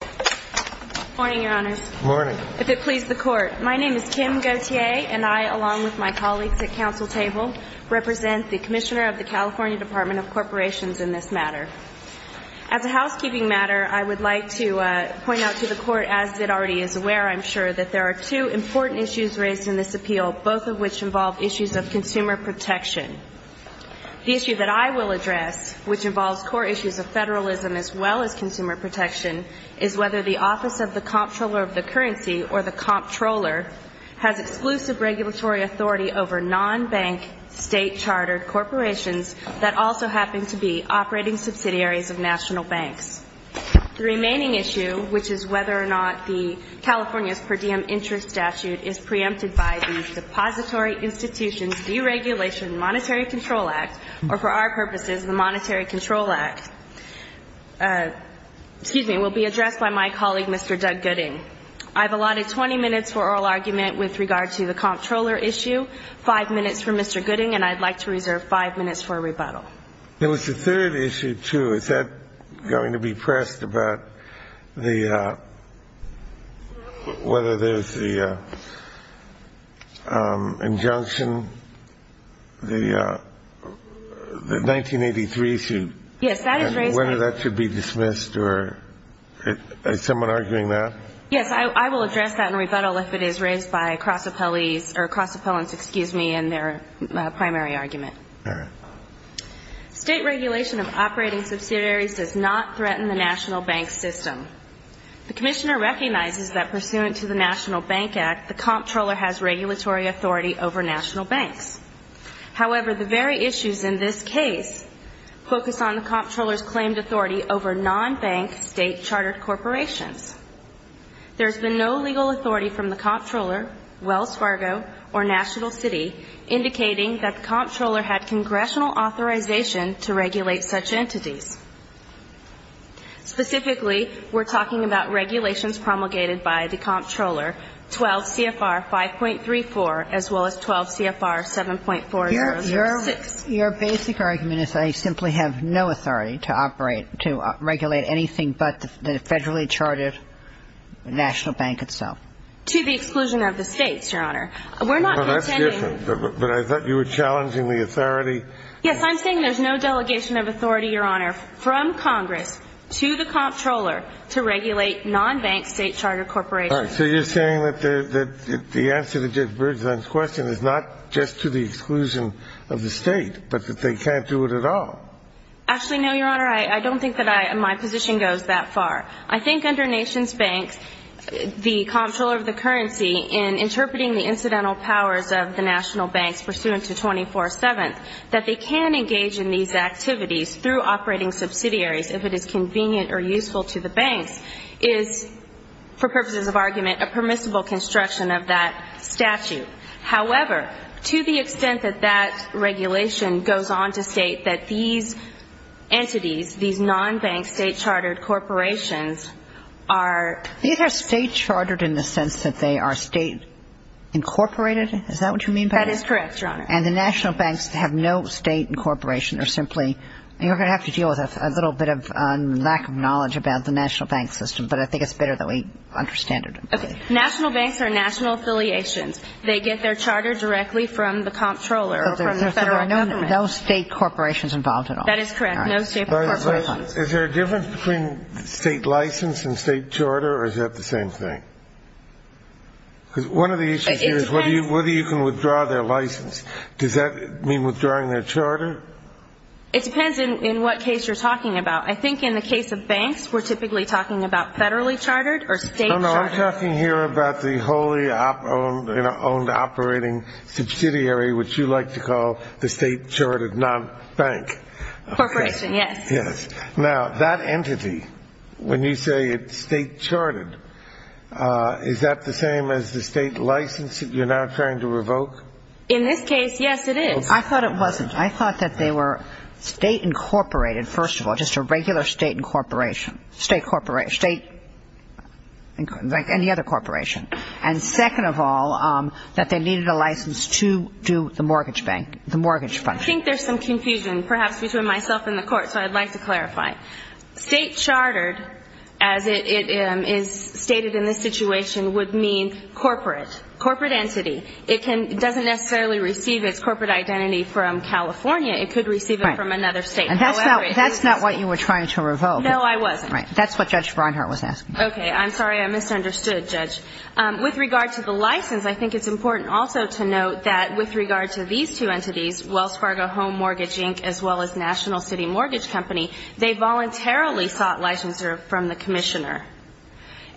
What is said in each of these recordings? Good morning, Your Honors. Good morning. If it pleases the Court, my name is Kim Gauthier, and I, along with my colleagues at Council Table, represent the Commissioner of the California Department of Corporations in this matter. As a housekeeping matter, I would like to point out to the Court, as it already is aware, I'm sure, that there are two important issues raised in this appeal, both of which involve issues of consumer protection. The issue that I will address, which involves core issues of federalism as well as consumer protection, is whether the Office of the Comptroller of the Currency, or the Comptroller, has exclusive regulatory authority over non-bank, state-chartered corporations that also happen to be operating subsidiaries of national banks. The remaining issue, which is whether or not the California's per diem interest statute is preempted by the Depository Institutions Deregulation Monetary Control Act, or for our purposes, the Monetary Control Act, excuse me, will be addressed by my colleague, Mr. Doug Gooding. I've allotted 20 minutes for oral argument with regard to the Comptroller issue, 5 minutes for Mr. Gooding, and I'd like to reserve 5 minutes for a rebuttal. There was a third issue, too. Is that going to be pressed about the, whether there's the injunction, the 1983 issue? Yes, that is raised. And whether that should be dismissed, or is someone arguing that? Yes, I will address that in rebuttal if it is raised by cross-appellees, or cross-appellants, excuse me, in their primary argument. State regulation of operating subsidiaries does not threaten the national bank system. The Commissioner recognizes that pursuant to the National Bank Act, the Comptroller has regulatory authority over national banks. However, the very issues in this case focus on the Comptroller's claimed authority over non-bank, state-chartered corporations. There has been no legal authority from the Comptroller, Wells Fargo, or National City indicating that the Comptroller had congressional authorization to regulate such entities. Specifically, we're talking about regulations promulgated by the Comptroller, 12 CFR 5.34, as well as 12 CFR 7.4006. Your basic argument is that I simply have no authority to operate, to regulate anything but the federally chartered national bank itself? To the exclusion of the states, Your Honor. We're not contending. Well, that's different. But I thought you were challenging the authority. Yes, I'm saying there's no delegation of authority, Your Honor, from Congress to the Comptroller to regulate non-bank, state-chartered corporations. All right. So you're saying that the answer to Judge Bergeson's question is not just to the exclusion of the state, but that they can't do it at all? Actually, no, Your Honor. I don't think that my position goes that far. I think under nation's banks, the Comptroller of the currency, in interpreting the incidental powers of the national banks pursuant to 24-7, that they can engage in these activities through operating subsidiaries if it is convenient or useful to the banks, is, for purposes of argument, a permissible construction of that statute. However, to the extent that that regulation goes on to state that these entities, these non-bank, state-chartered corporations are — These are state-chartered in the sense that they are state-incorporated? Is that what you mean by that? That is correct, Your Honor. And the national banks have no state incorporation or simply — you're going to have to deal with a little bit of lack of knowledge about the national bank system, but I think it's better that we understand it. Okay. National banks are national affiliations. They get their charter directly from the Comptroller or from the federal government. So there are no state corporations involved at all? That is correct. No state corporations. Is there a difference between state license and state charter, or is that the same thing? Because one of the issues here is whether you can withdraw their license. Does that mean withdrawing their charter? It depends in what case you're talking about. I think in the case of banks, we're typically talking about federally chartered or state chartered. No, no, I'm talking here about the wholly-owned operating subsidiary, which you like to call the state-chartered non-bank. Corporation, yes. Yes. Now, that entity, when you say it's state-chartered, is that the same as the state license that you're now trying to revoke? In this case, yes, it is. I thought it wasn't. I thought that they were state-incorporated, first of all, just a regular state incorporation. State corporation. State, like any other corporation. And second of all, that they needed a license to do the mortgage bank, the mortgage function. I think there's some confusion perhaps between myself and the Court, so I'd like to clarify. State-chartered, as it is stated in this situation, would mean corporate, corporate entity. It doesn't necessarily receive its corporate identity from California. It could receive it from another state. And that's not what you were trying to revoke. No, I wasn't. Right. That's what Judge Breinhart was asking. Okay. I'm sorry. I misunderstood, Judge. With regard to the license, I think it's important also to note that with regard to these two entities, Wells Fargo Home Mortgage, Inc., as well as National City Mortgage Company, they voluntarily sought licensure from the commissioner.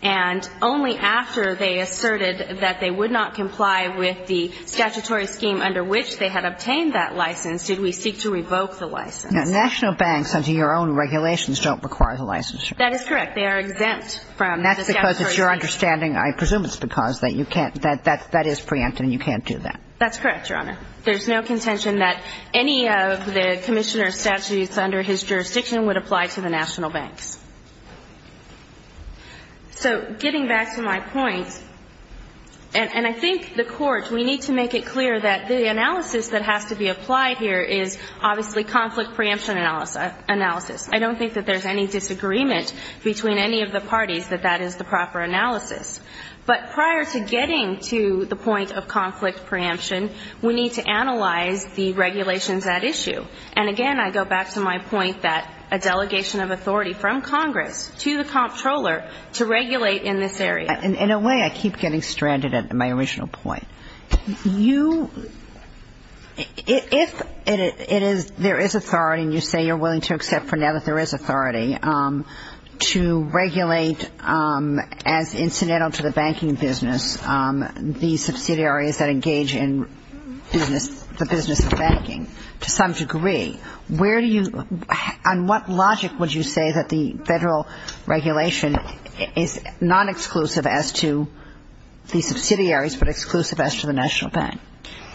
And only after they asserted that they would not comply with the statutory scheme under which they had obtained that license did we seek to revoke the license. Now, national banks, under your own regulations, don't require the licensure. That is correct. They are exempt from the statutory scheme. That's because it's your understanding, I presume it's because, that you can't, that that is preempted and you can't do that. That's correct, Your Honor. There's no contention that any of the commissioner's statutes under his jurisdiction would apply to the national banks. So getting back to my point, and I think the Court, we need to make it clear that the analysis that has to be applied here is obviously conflict preemption analysis. I don't think that there's any disagreement between any of the parties that that is the proper analysis. But prior to getting to the point of conflict preemption, we need to analyze the regulations at issue. And again, I go back to my point that a delegation of authority from Congress to the comptroller to regulate in this area. In a way, I keep getting stranded at my original point. You, if it is, there is authority, and you say you're willing to accept for now that there is authority, to regulate as incidental to the banking business, the subsidiaries that engage in business, the business of banking, to some degree, on what logic would you say that the federal regulation is non-exclusive as to the subsidiaries, but exclusive as to the national bank?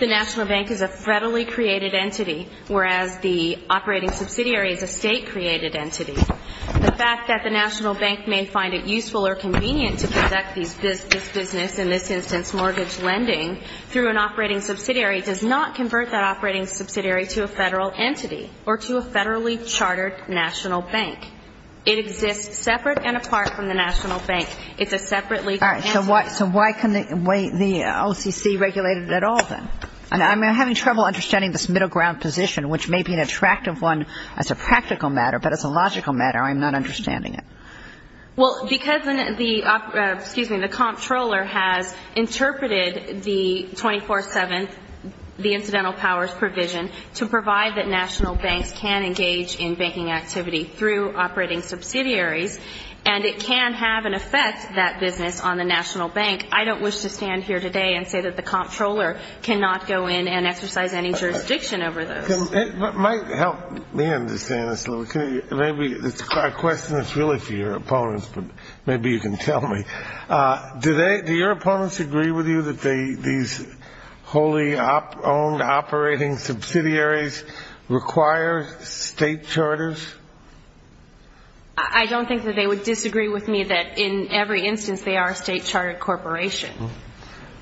The national bank is a federally created entity, whereas the operating subsidiary is a state-created entity. The fact that the national bank may find it useful or convenient to conduct this business, in this instance mortgage lending, through an operating subsidiary, does not convert that operating subsidiary to a federal entity or to a federally chartered national bank. It exists separate and apart from the national bank. It's a separate legal entity. So why can't the OCC regulate it at all, then? I'm having trouble understanding this middle ground position, which may be an attractive one as a practical matter, but as a logical matter, I'm not understanding it. Well, because the comptroller has interpreted the 24-7, the incidental powers provision, to provide that national banks can engage in banking activity through operating subsidiaries, and it can have an effect, that business, on the national bank, I don't wish to stand here today and say that the comptroller cannot go in and exercise any jurisdiction over those. It might help me understand this a little. Maybe it's a question that's really for your opponents, but maybe you can tell me. Do your opponents agree with you that these wholly owned operating subsidiaries require state charters? I don't think that they would disagree with me that in every instance they are a state chartered corporation.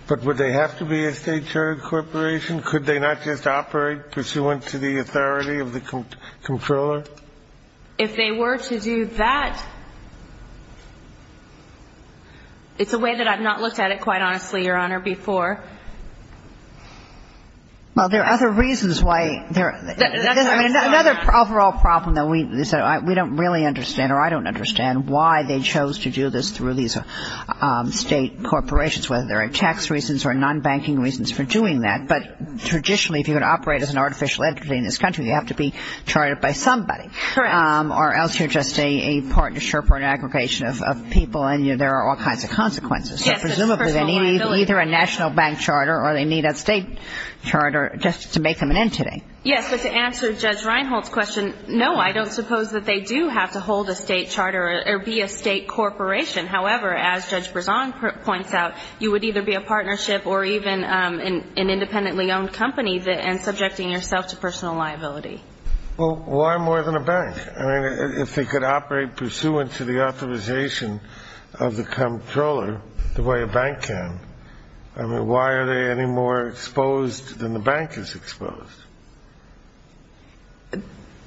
But would they have to be a state chartered corporation? Could they not just operate pursuant to the authority of the comptroller? If they were to do that, it's a way that I've not looked at it, quite honestly, Your Honor, before. Well, there are other reasons why. Another overall problem, though, is that we don't really understand, or I don't understand why they chose to do this through these state corporations, whether there are tax reasons or non-banking reasons for doing that. But traditionally, if you were to operate as an artificial entity in this country, you have to be chartered by somebody. Correct. Or else you're just a partnership or an aggregation of people, and there are all kinds of consequences. So presumably they need either a national bank charter or they need a state charter just to make them an entity. Yes, but to answer Judge Reinhold's question, no, I don't suppose that they do have to hold a state charter or be a state corporation. However, as Judge Berzon points out, you would either be a partnership or even an independently owned company and subjecting yourself to personal liability. Well, why more than a bank? I mean, if they could operate pursuant to the authorization of the comptroller the way a bank can, I mean, why are they any more exposed than the bank is exposed?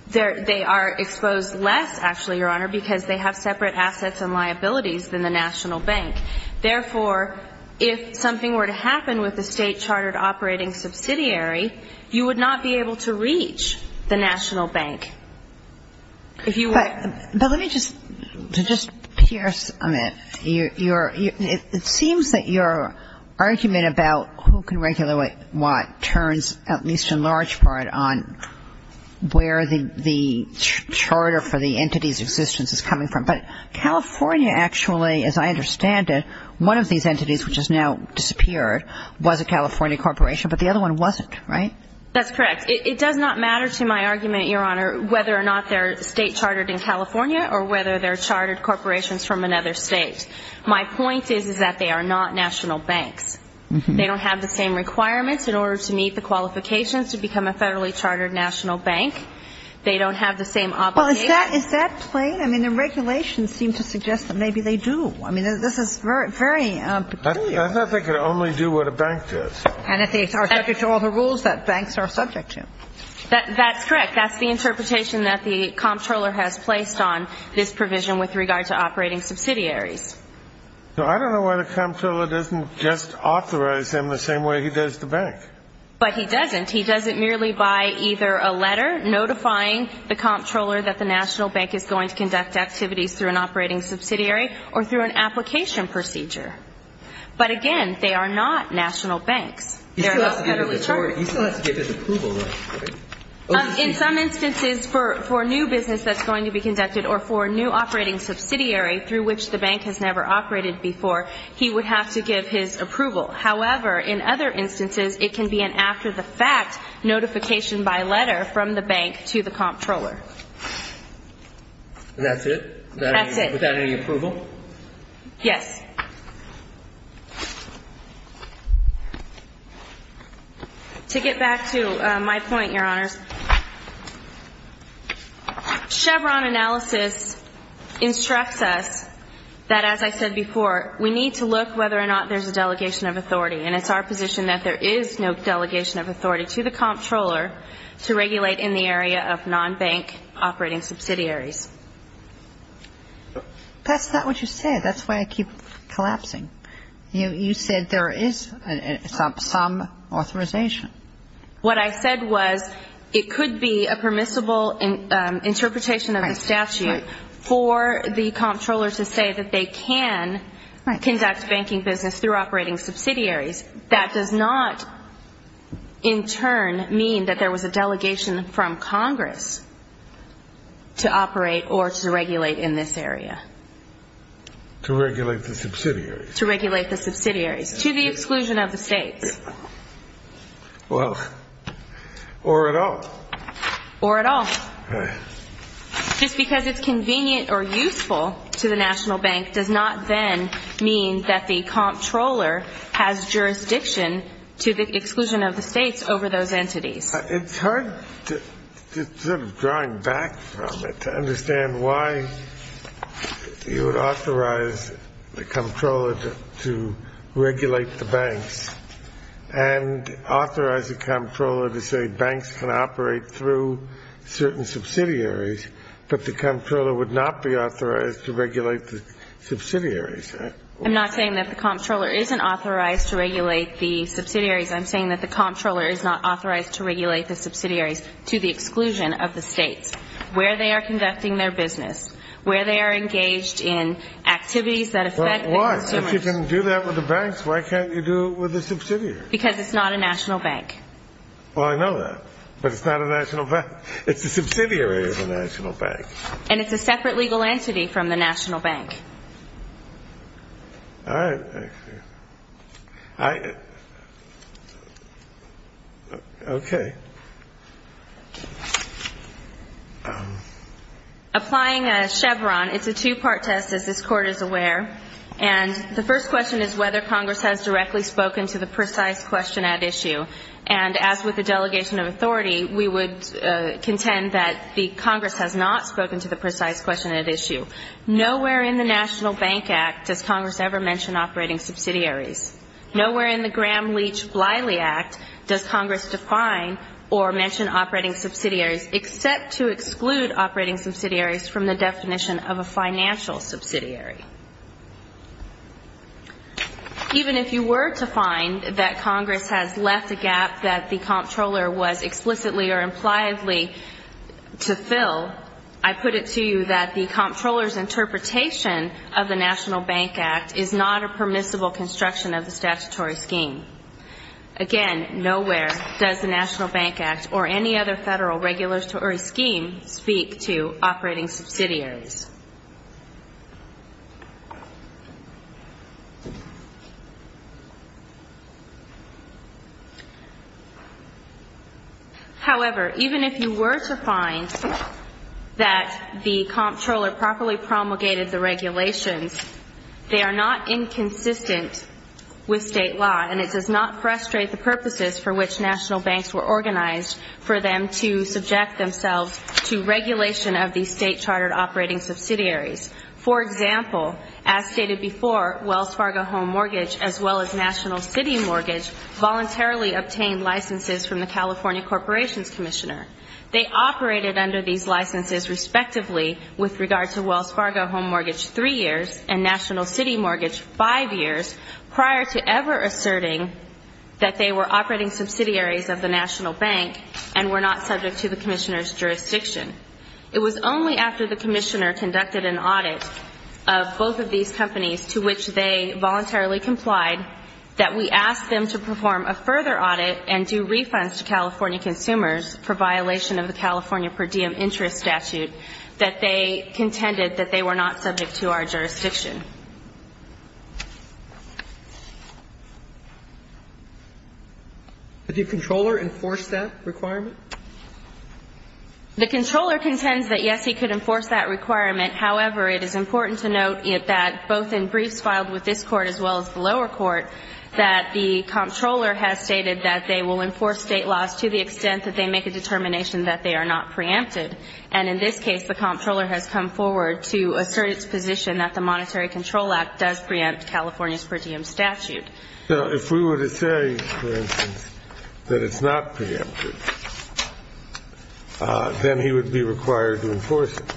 They are exposed less, actually, Your Honor, because they have separate assets and liabilities than the national bank. Therefore, if something were to happen with the state chartered operating subsidiary, you would not be able to reach the national bank. But let me just, to just pierce a minute, it seems that your argument about who can regulate what turns at least in large part on where the charter for the entity's existence is coming from. But California actually, as I understand it, one of these entities which has now disappeared was a California corporation, but the other one wasn't, right? That's correct. It does not matter to my argument, Your Honor, whether or not they're state chartered in California or whether they're chartered corporations from another state. My point is, is that they are not national banks. They don't have the same requirements in order to meet the qualifications to become a federally chartered national bank. They don't have the same obligations. Well, is that plain? I mean, the regulations seem to suggest that maybe they do. I mean, this is very peculiar. I thought they could only do what a bank does. And if they are subject to all the rules that banks are subject to. That's correct. That's the interpretation that the comptroller has placed on this provision with regard to operating subsidiaries. So I don't know why the comptroller doesn't just authorize them the same way he does the bank. But he doesn't. He does it merely by either a letter notifying the comptroller that the national bank is going to conduct activities through an operating subsidiary or through an application procedure. But, again, they are not national banks. They're not federally chartered. He still has to give his approval, though, right? In some instances, for new business that's going to be conducted or for a new operating subsidiary through which the bank has never operated before, he would have to give his approval. However, in other instances, it can be an after-the-fact notification by letter from the bank to the comptroller. And that's it? That's it. Without any approval? Yes. To get back to my point, Your Honors, Chevron analysis instructs us that, as I said before, we need to look whether or not there's a delegation of authority. And it's our position that there is no delegation of authority to the comptroller to regulate in the area of non-bank operating subsidiaries. That's not what you said. That's why I keep collapsing. You said there is some authorization. What I said was it could be a permissible interpretation of the statute for the comptroller to say that they can conduct banking business through operating subsidiaries. That does not, in turn, mean that there was a delegation from Congress to operate or to regulate in this area. To regulate the subsidiaries. To regulate the subsidiaries, to the exclusion of the states. Well, or at all. Or at all. Just because it's convenient or useful to the national bank does not then mean that the comptroller has jurisdiction to the exclusion of the states over those entities. It's hard, sort of drawing back from it, to understand why you would authorize the comptroller to regulate the banks and authorize the comptroller to say banks can operate through certain subsidiaries, but the comptroller would not be authorized to regulate the subsidiaries. I'm not saying that the comptroller isn't authorized to regulate the subsidiaries. I'm saying that the comptroller is not authorized to regulate the subsidiaries to the exclusion of the states. Where they are conducting their business. Where they are engaged in activities that affect the consumers. Well, why? If you can do that with the banks, why can't you do it with the subsidiaries? Because it's not a national bank. Well, I know that. But it's not a national bank. It's a subsidiary of a national bank. And it's a separate legal entity from the national bank. All right. Okay. Applying a Chevron. It's a two-part test, as this Court is aware. And the first question is whether Congress has directly spoken to the precise question at issue. And as with the delegation of authority, we would contend that the Congress has not spoken to the precise question at issue. Nowhere in the National Bank Act does Congress ever mention operating subsidiaries. Nowhere in the Graham-Leach-Bliley Act does Congress define or mention operating subsidiaries, except to exclude operating subsidiaries from the definition of a financial subsidiary. Even if you were to find that Congress has left a gap that the comptroller was interpretation of the National Bank Act is not a permissible construction of the statutory scheme, again, nowhere does the National Bank Act or any other federal regulatory scheme speak to operating subsidiaries. However, even if you were to find that the comptroller properly promulgated the regulations, they are not inconsistent with state law, and it does not frustrate the purposes for which national banks were organized for them to subject themselves to operating subsidiaries. For example, as stated before, Wells Fargo Home Mortgage, as well as National City Mortgage, voluntarily obtained licenses from the California Corporations Commissioner. They operated under these licenses, respectively, with regard to Wells Fargo Home Mortgage three years and National City Mortgage five years, prior to ever asserting that they were operating subsidiaries of the national bank and were not subject to the commissioner's jurisdiction. It was only after the commissioner conducted an audit of both of these companies to which they voluntarily complied that we asked them to perform a further audit and do refunds to California consumers for violation of the California per diem interest statute that they contended that they were not subject to our jurisdiction. The comptroller enforced that requirement? The comptroller contends that, yes, he could enforce that requirement. However, it is important to note that both in briefs filed with this Court as well as the lower court, that the comptroller has stated that they will enforce state laws to the extent that they make a determination that they are not preempted. And in this case, the comptroller has come forward to assert its position that the Monetary Control Act does preempt California's per diem statute. Now, if we were to say, for instance, that it's not preempted, then he would be required to enforce it.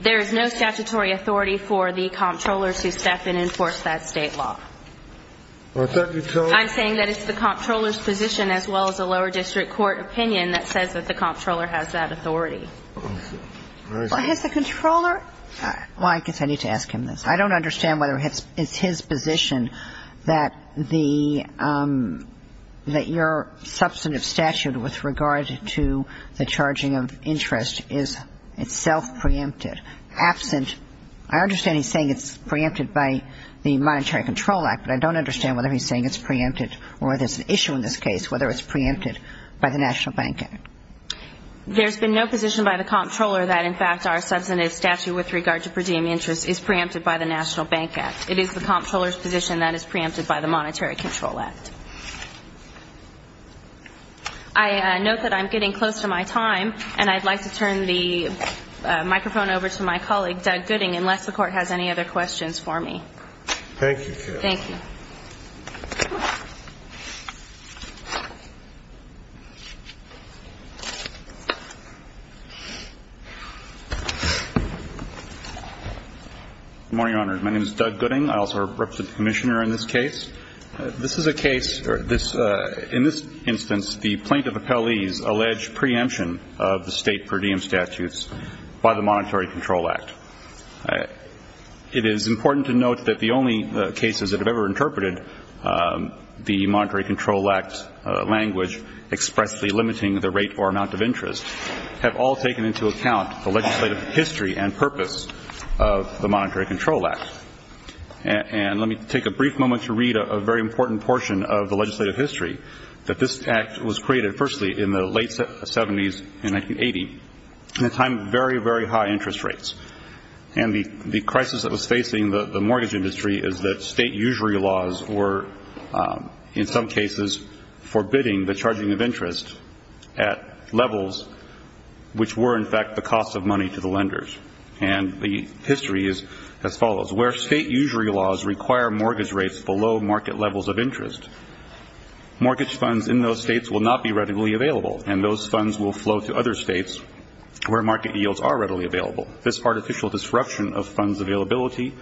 There is no statutory authority for the comptroller to step in and enforce that state law. I'm saying that it's the comptroller's position as well as a lower district court opinion that says that the comptroller has that authority. Has the comptroller ñ well, I guess I need to ask him this. I don't understand whether it's his position that the ñ that your substantive statute with regard to the charging of interest is itself preempted. I understand he's saying it's preempted by the Monetary Control Act, but I don't understand whether he's saying it's preempted or whether it's an issue in this case, whether it's preempted by the National Bank Act. There's been no position by the comptroller that, in fact, our substantive statute with regard to per diem interest is preempted by the National Bank Act. It is the comptroller's position that it's preempted by the Monetary Control Act. I note that I'm getting close to my time, and I'd like to turn the microphone over to my colleague, Doug Gooding, unless the Court has any other questions for me. Thank you. Thank you. Good morning, Your Honors. My name is Doug Gooding. I also represent the Commissioner in this case. This is a case ñ or this ñ in this instance, the plaintiff appellees allege preemption of the State per diem statutes by the Monetary Control Act. It is important to note that the only cases that have ever interpreted the Monetary Control Act language expressly limiting the rate or amount of interest have all taken into account the legislative history and purpose of the Monetary Control Act. And let me take a brief moment to read a very important portion of the legislative history that this act was created, firstly, in the late 70s and 1980, in a time of very, very high interest rates. And the crisis that was facing the mortgage industry is that state usury laws were, in some cases, forbidding the charging of interest at levels which were, in fact, the cost of money to the lenders. And the history is as follows. Where state usury laws require mortgage rates below market levels of interest, mortgage funds in those states will not be readily available, and those funds will flow to other states where market yields are readily available. This artificial disruption of funds availability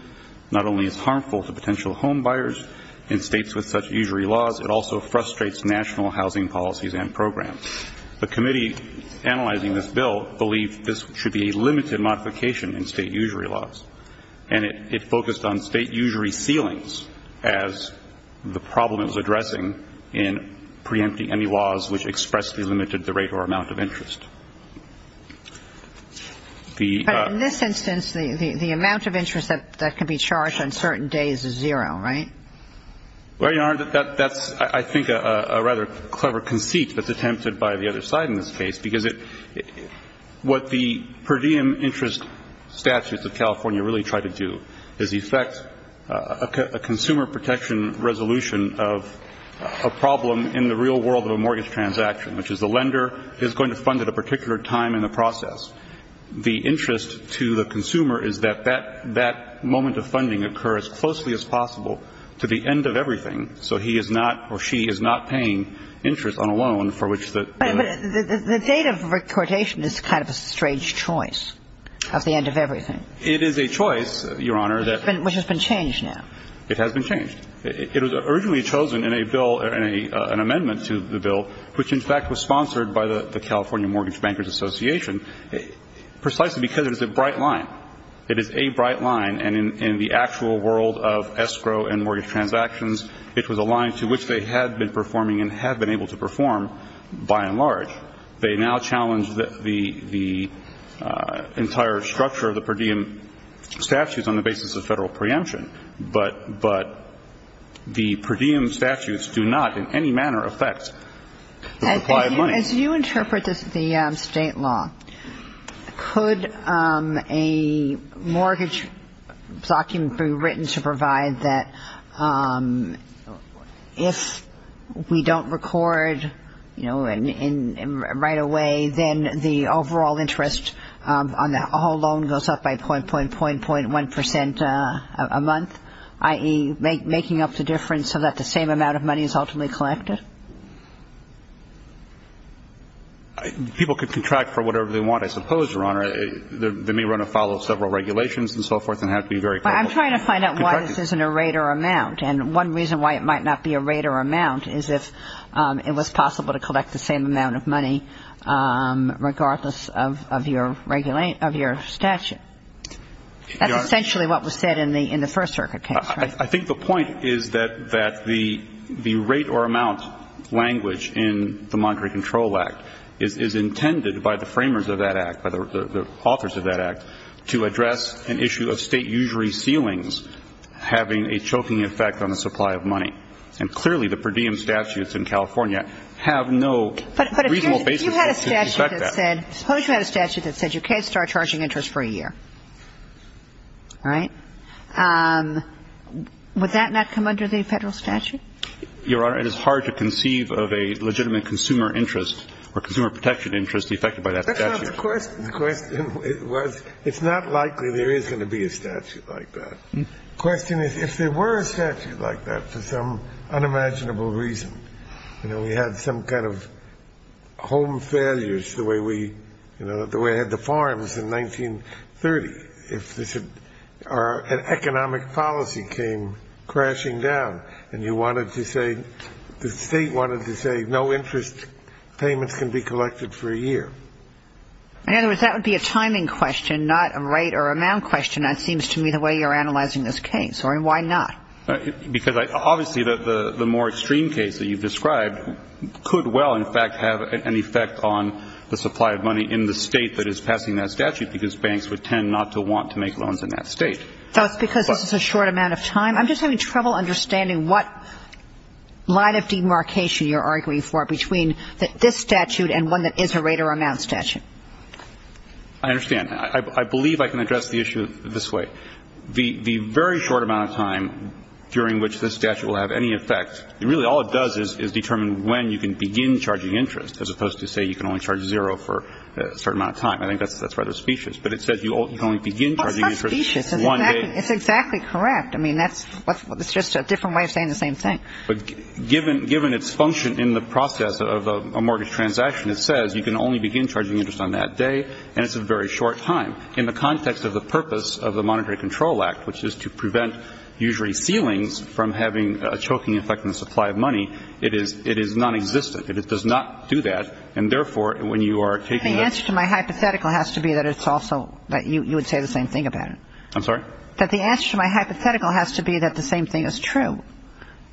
not only is harmful to potential homebuyers in states with such usury laws, it also frustrates national housing policies and programs. The committee analyzing this bill believed this should be a limited modification in state usury laws. And it focused on state usury ceilings as the problem it was addressing in preempting any laws which expressly limited the rate or amount of interest. The ---- But in this instance, the amount of interest that could be charged on certain days is zero, right? Well, Your Honor, that's, I think, a rather clever conceit that's attempted by the other side in this case, because it ---- what the per diem interest statutes of California really try to do is effect a consumer protection resolution of a problem in the real world of a mortgage transaction, which is the lender is going to fund at a particular time in the process. The interest to the consumer is that that moment of funding occur as closely as possible to the end of everything, so he is not or she is not paying interest on a loan for which the ---- But the date of recordation is kind of a strange choice of the end of everything. It is a choice, Your Honor, that ---- Which has been changed now. It has been changed. It was originally chosen in a bill, an amendment to the bill, which in fact was sponsored by the California Mortgage Bankers Association precisely because it is a bright line. It is a bright line. And in the actual world of escrow and mortgage transactions, it was a line to which they had been performing and have been able to perform, by and large. They now challenge the entire structure of the per diem statutes on the basis of Federal preemption. But the per diem statutes do not in any manner affect the supply of money. Your Honor, as you interpret this, the state law, could a mortgage document be written to provide that if we don't record, you know, right away, then the overall interest on the whole loan goes up by point, point, point, point, 1 percent a month, i.e., Is there any way of making up the difference so that the same amount of money is ultimately collected? People could contract for whatever they want, I suppose, Your Honor. They may want to follow several regulations and so forth and have to be very careful. But I'm trying to find out why this isn't a rate or amount. And one reason why it might not be a rate or amount is if it was possible to collect the same amount of money regardless of your statute. That's essentially what was said in the First Circuit case, right? I think the point is that the rate or amount language in the Monetary Control Act is intended by the framers of that act, by the authors of that act, to address an issue of state usury ceilings having a choking effect on the supply of money. And clearly, the per diem statutes in California have no reasonable basis to respect that. The question is, if there were a statute like that, for some unimaginable reason, you know, we had some kind of home failures the way we have in the United States, interest effected by that statute. The way I had the farms in 1930. Our economic policy came crashing down, and you wanted to say, the state wanted to say, no interest payments can be collected for a year. In other words, that would be a timing question, not a rate or amount question. That seems to me the way you're analyzing this case. Why not? Well, I don't think it would have an effect on the supply of money in the state that is passing that statute, because banks would tend not to want to make loans in that state. That's because this is a short amount of time? I'm just having trouble understanding what line of demarcation you're arguing for between this statute and one that is a rate or amount statute. I understand. I believe I can address the issue this way. The very short amount of time during which this statute will have any effect, really all it does is determine when you can begin charging interest, as opposed to say you can only charge zero for a certain amount of time. I think that's rather specious. But it says you can only begin charging interest one day. It's not specious. It's exactly correct. I mean, that's just a different way of saying the same thing. But given its function in the process of a mortgage transaction, it says you can only begin charging interest on that day, and it's a very short time. In the context of the purpose of the Monetary Control Act, which is to prevent usually ceilings from having a choking effect on the supply of money, it is nonexistent. It does not do that. And therefore, when you are taking the ---- The answer to my hypothetical has to be that it's also that you would say the same thing about it. I'm sorry? That the answer to my hypothetical has to be that the same thing is true.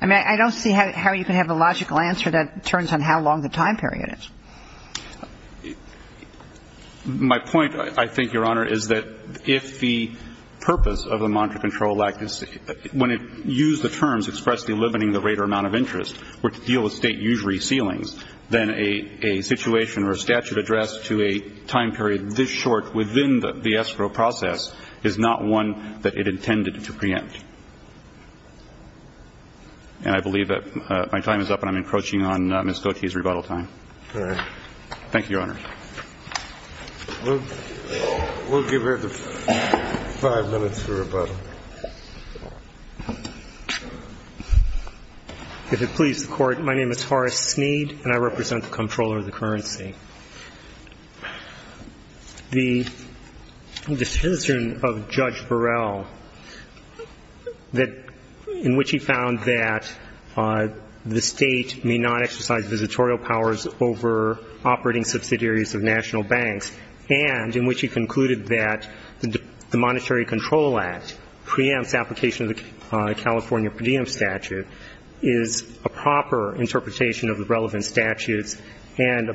I mean, I don't see how you can have a logical answer that turns on how long the time period is. My point, I think, Your Honor, is that if the purpose of the Monetary Control Act is to ---- when it used the terms expressly limiting the rate or amount of interest were to deal with State usury ceilings, then a situation or a statute addressed to a time period this short within the escrow process is not one that it intended to preempt. And I believe that my time is up, and I'm encroaching on Ms. Kochi's rebuttal time. All right. Thank you, Your Honor. We'll give her the five minutes for rebuttal. If it pleases the Court, my name is Horace Sneed, and I represent the Comptroller of the Currency. The decision of Judge Burrell that ---- in which he found that the State may not exercise visitorial powers over operating subsidiaries of national banks, and in which he concluded that the Monetary Control Act preempts application of the California per diem statute is a proper interpretation of the relevant statutes and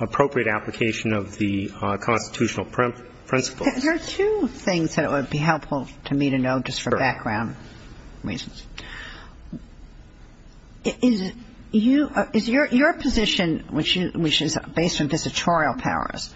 appropriate application of the constitutional principles. There are two things that would be helpful to me to know just for background reasons. Is your position, which is based on visitorial powers,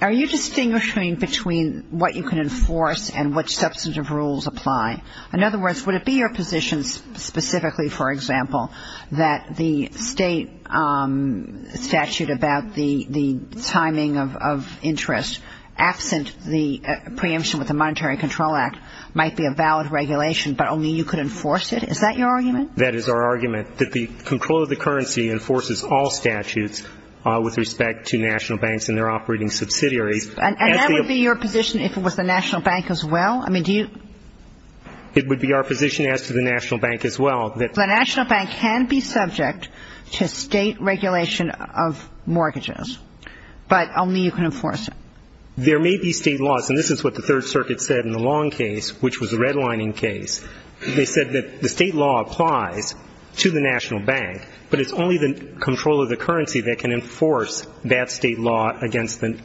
are you distinguishing between what you can enforce and which substantive rules apply? In other words, would it be your position specifically, for example, that the State statute about the timing of interest absent the preemption with the Monetary Control Act might be a valid regulation, but only you could enforce it? Is that your argument? That is our argument, that the Comptroller of the Currency enforces all statutes with respect to national banks and their operating subsidiaries. And that would be your position if it was the national bank as well? I mean, do you ---- It would be our position as to the national bank as well that ---- The national bank can be subject to State regulation of mortgages, but only you can enforce it. There may be State laws, and this is what the Third Circuit said in the Long case, which was a redlining case. They said that the State law applies to the national bank, but it's only the Comptroller of the Currency that can enforce that State law against the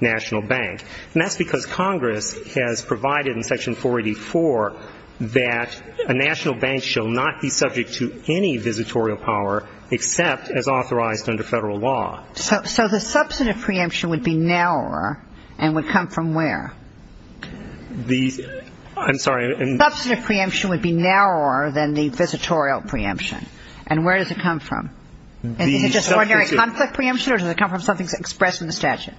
national bank. And that's because Congress has provided in Section 484 that a national bank shall not be subject to any visitorial power except as authorized under Federal law. So the substantive preemption would be narrower and would come from where? The ---- I'm sorry. The substantive preemption would be narrower than the visitorial preemption. And where does it come from? Is it just ordinary conflict preemption, or does it come from something expressed in the statute?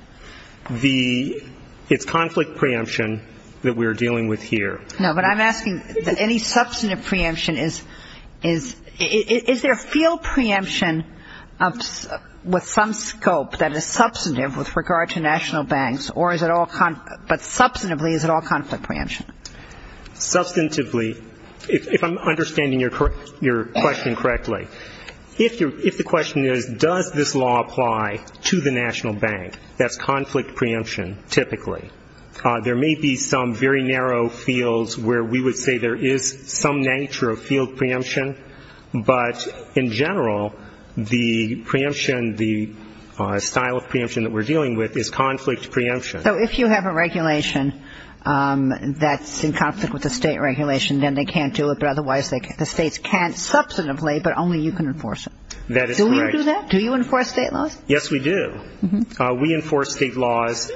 The ---- It's conflict preemption that we're dealing with here. No, but I'm asking, any substantive preemption is ---- is there a field preemption with some scope that is substantive with regard to national banks, or is it all ---- but substantively, is it all conflict preemption? Substantively, if I'm understanding your question correctly. If the question is, does this law apply to the national bank, that's conflict preemption typically. There may be some very narrow fields where we would say there is some nature of field preemption, but in general, the preemption, the style of preemption that we're dealing with is conflict preemption. So if you have a regulation that's in conflict with the state regulation, then they can't do it, but otherwise the states can't substantively, but only you can enforce it. That is correct. Do you do that? Do you enforce state laws? Yes, we do. We enforce state laws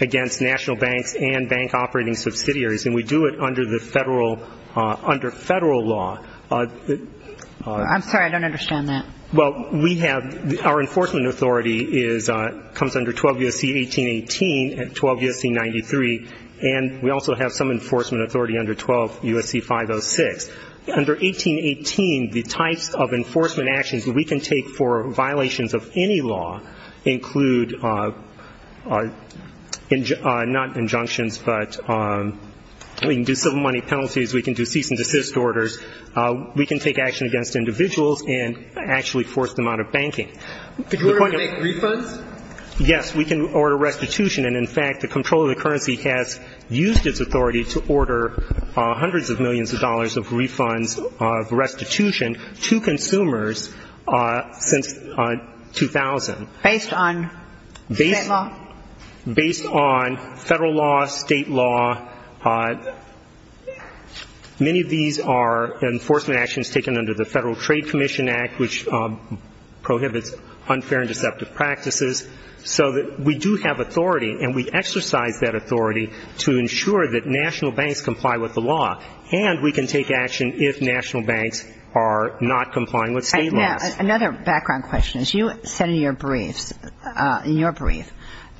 against national banks and bank operating subsidiaries, and we do it under the Federal ---- under Federal law. I'm sorry. I don't understand that. Well, we have ---- our enforcement authority is ---- comes under 12 U.S.C. 1818 and 12 U.S.C. 93, and we also have some enforcement authority under 12 U.S.C. 506. Under 1818, the types of enforcement actions that we can take for violations of any law include not injunctions, but we can do civil money penalties, we can do cease and desist orders, we can take action against individuals and actually force them out of banking. Could you order to make refunds? Yes, we can order restitution. And, in fact, the Comptroller of the Currency has used its authority to order hundreds of millions of dollars of refunds of restitution to consumers since 2000. Based on state law? Based on Federal law, state law. Many of these are enforcement actions taken under the Federal Trade Commission Act, which prohibits unfair and deceptive practices, so that we do have authority and we exercise that authority to ensure that national banks comply with the law, and we can take action if national banks are not complying with state laws. Now, another background question. You said in your brief that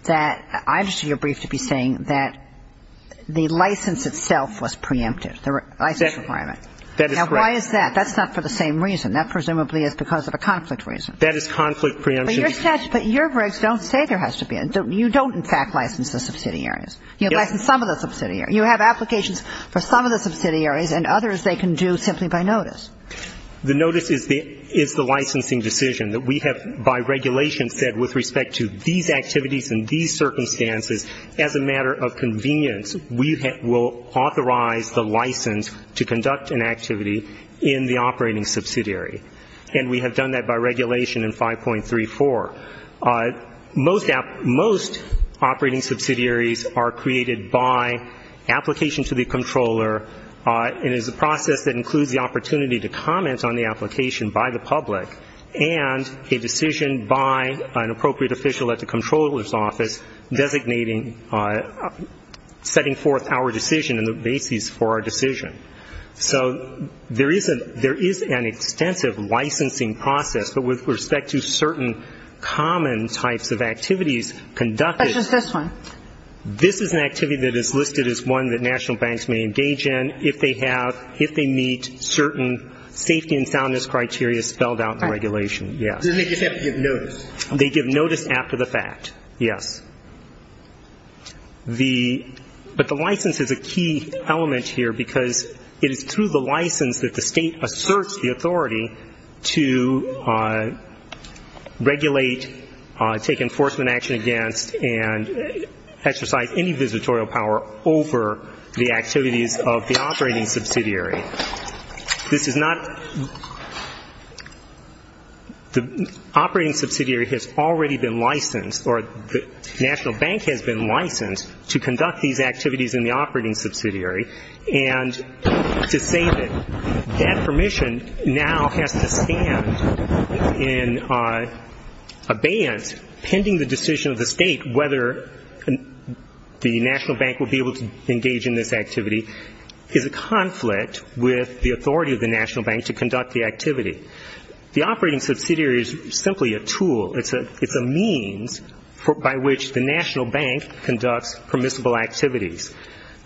---- I understood your brief to be saying that the license itself was preemptive, the license requirement. That is correct. Now, why is that? That's not for the same reason. That presumably is because of a conflict reason. That is conflict preemption. But your statutes ---- but your rigs don't say there has to be a ---- you don't, in fact, license the subsidiaries. You license some of the subsidiaries. You have applications for some of the subsidiaries, and others they can do simply by notice. The notice is the licensing decision that we have by regulation said with respect to these activities and these circumstances, as a matter of convenience, we will authorize the license to conduct an activity in the operating subsidiary. And we have done that by regulation in 5.34. Most operating subsidiaries are created by application to the controller. It is a process that includes the opportunity to comment on the application by the public and a decision by an appropriate official at the controller's office designating ---- setting forth our decision and the basis for our decision. So there is an extensive licensing process. But with respect to certain common types of activities conducted ---- But just this one. This is an activity that is listed as one that national banks may engage in if they have ---- Then they just have to give notice. They give notice after the fact, yes. But the license is a key element here because it is through the license that the State asserts the authority to regulate, take enforcement action against, and exercise any visitorial power over the activities of the operating subsidiary. This is not ---- The operating subsidiary has already been licensed, or the national bank has been licensed to conduct these activities in the operating subsidiary. And to save it, that permission now has to stand in abeyance pending the decision of the State whether the national bank will be able to engage in this activity. The operating subsidiary is a conflict with the authority of the national bank to conduct the activity. The operating subsidiary is simply a tool. It's a means by which the national bank conducts permissible activities.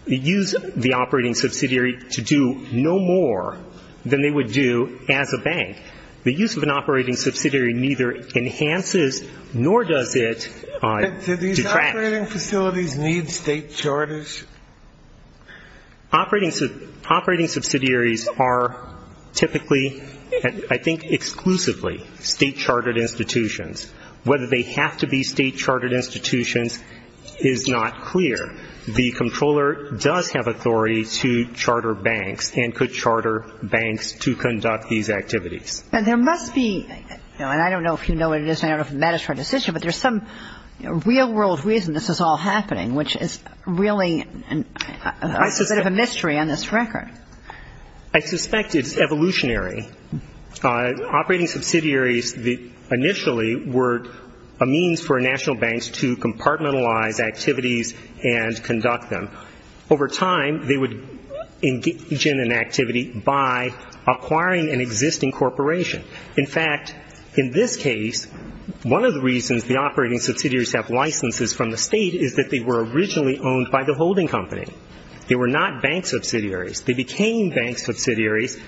They use the operating subsidiary to do no more than they would do as a bank. The use of an operating subsidiary neither enhances nor does it detract. Sotomayor, operating facilities need State charters? Operating subsidiaries are typically, I think exclusively, State chartered institutions. Whether they have to be State chartered institutions is not clear. The Comptroller does have authority to charter banks and could charter banks to conduct these activities. And there must be, and I don't know if you know what it is, and I don't know if it matters for a decision, but there's some real world reason this is all happening, which is really a bit of a mystery on this record. I suspect it's evolutionary. Operating subsidiaries initially were a means for national banks to compartmentalize activities and conduct them. Over time, they would engage in an activity by acquiring an existing corporation. In fact, in this case, one of the reasons the operating subsidiaries have licenses from the State is that they were originally owned by the holding company. They were not bank subsidiaries. They became bank subsidiaries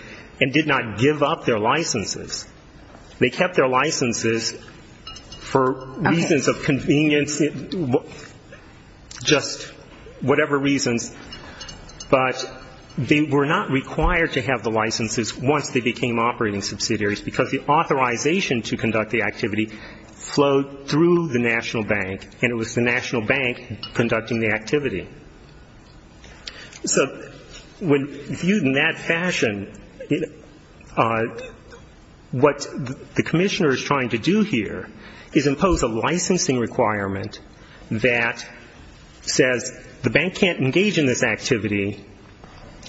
and did not give up their licenses. They kept their licenses for reasons of convenience, just whatever reasons, but they were not required to have the licenses once they became operating subsidiaries because the authorization to conduct the activity flowed through the national bank and it was the national bank conducting the activity. So viewed in that fashion, what the Commissioner is trying to do here is impose a licensing requirement that says the bank can't engage in this activity,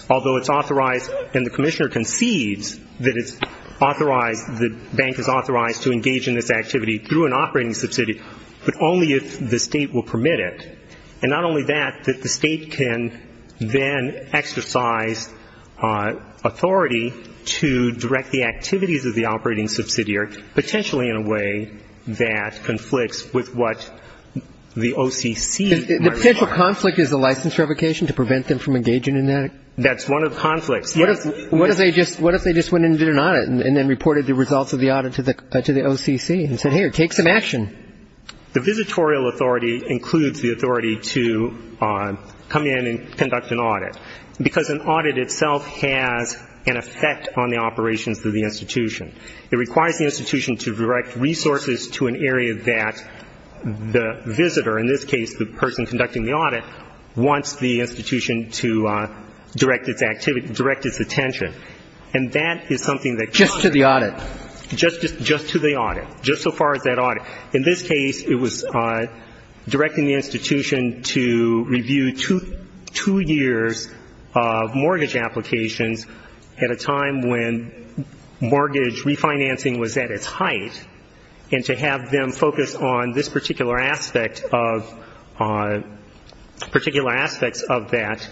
although it's authorized and the Commissioner concedes that it's authorized, the bank is authorized to engage in this activity through an operating subsidiary, but only if the State will permit it. And not only that, that the State can then exercise authority to direct the activities of the operating subsidiary, potentially in a way that conflicts with what the OCC might require. The potential conflict is the license revocation to prevent them from engaging in that? That's one of the conflicts. What if they just went in and did an audit and then reported the results of the audit to the OCC and said, hey, take some action? The visitorial authority includes the authority to come in and conduct an audit because an audit itself has an effect on the operations of the institution. It requires the institution to direct resources to an area that the visitor, in this case the person conducting the audit, wants the institution to direct its activity, direct its attention. And that is something that can occur. Just to the audit? Just to the audit. Just so far as that audit. In this case, it was directing the institution to review two years of mortgage applications at a time when mortgage refinancing was at its height, and to have them focus on this particular aspect of that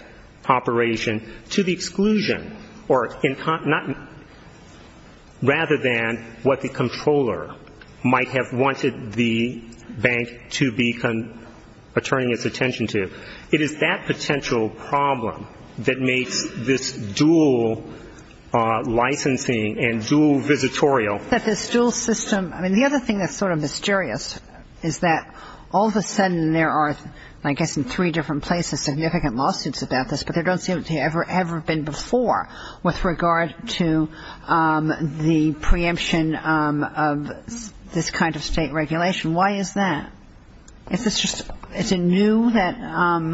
operation to the exclusion, rather than what the controller might have wanted the bank to be turning its attention to. It is that potential problem that makes this dual licensing and dual visitorial. But this dual system, I mean, the other thing that's sort of mysterious is that all of a sudden there are, I guess in three different places, significant lawsuits about this, but they don't seem to have ever been before with regard to the preemption of this kind of state regulation. Why is that? Is this just new? I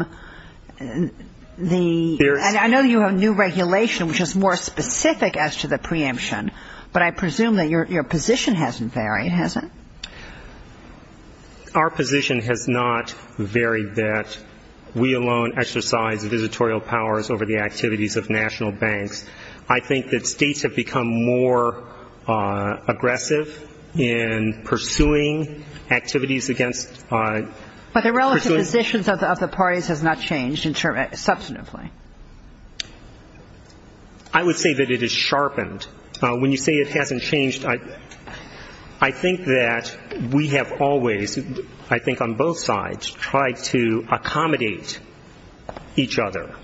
know you have new regulation, which is more specific as to the preemption, but I presume that your position hasn't varied, has it? Our position has not varied that we alone exercise visitorial powers over the activities of national banks. I think that states have become more aggressive in pursuing activities against ‑‑ But the relative positions of the parties has not changed substantively. I would say that it has sharpened. When you say it hasn't changed, I think that we have always, I think on both sides, tried to accommodate each other,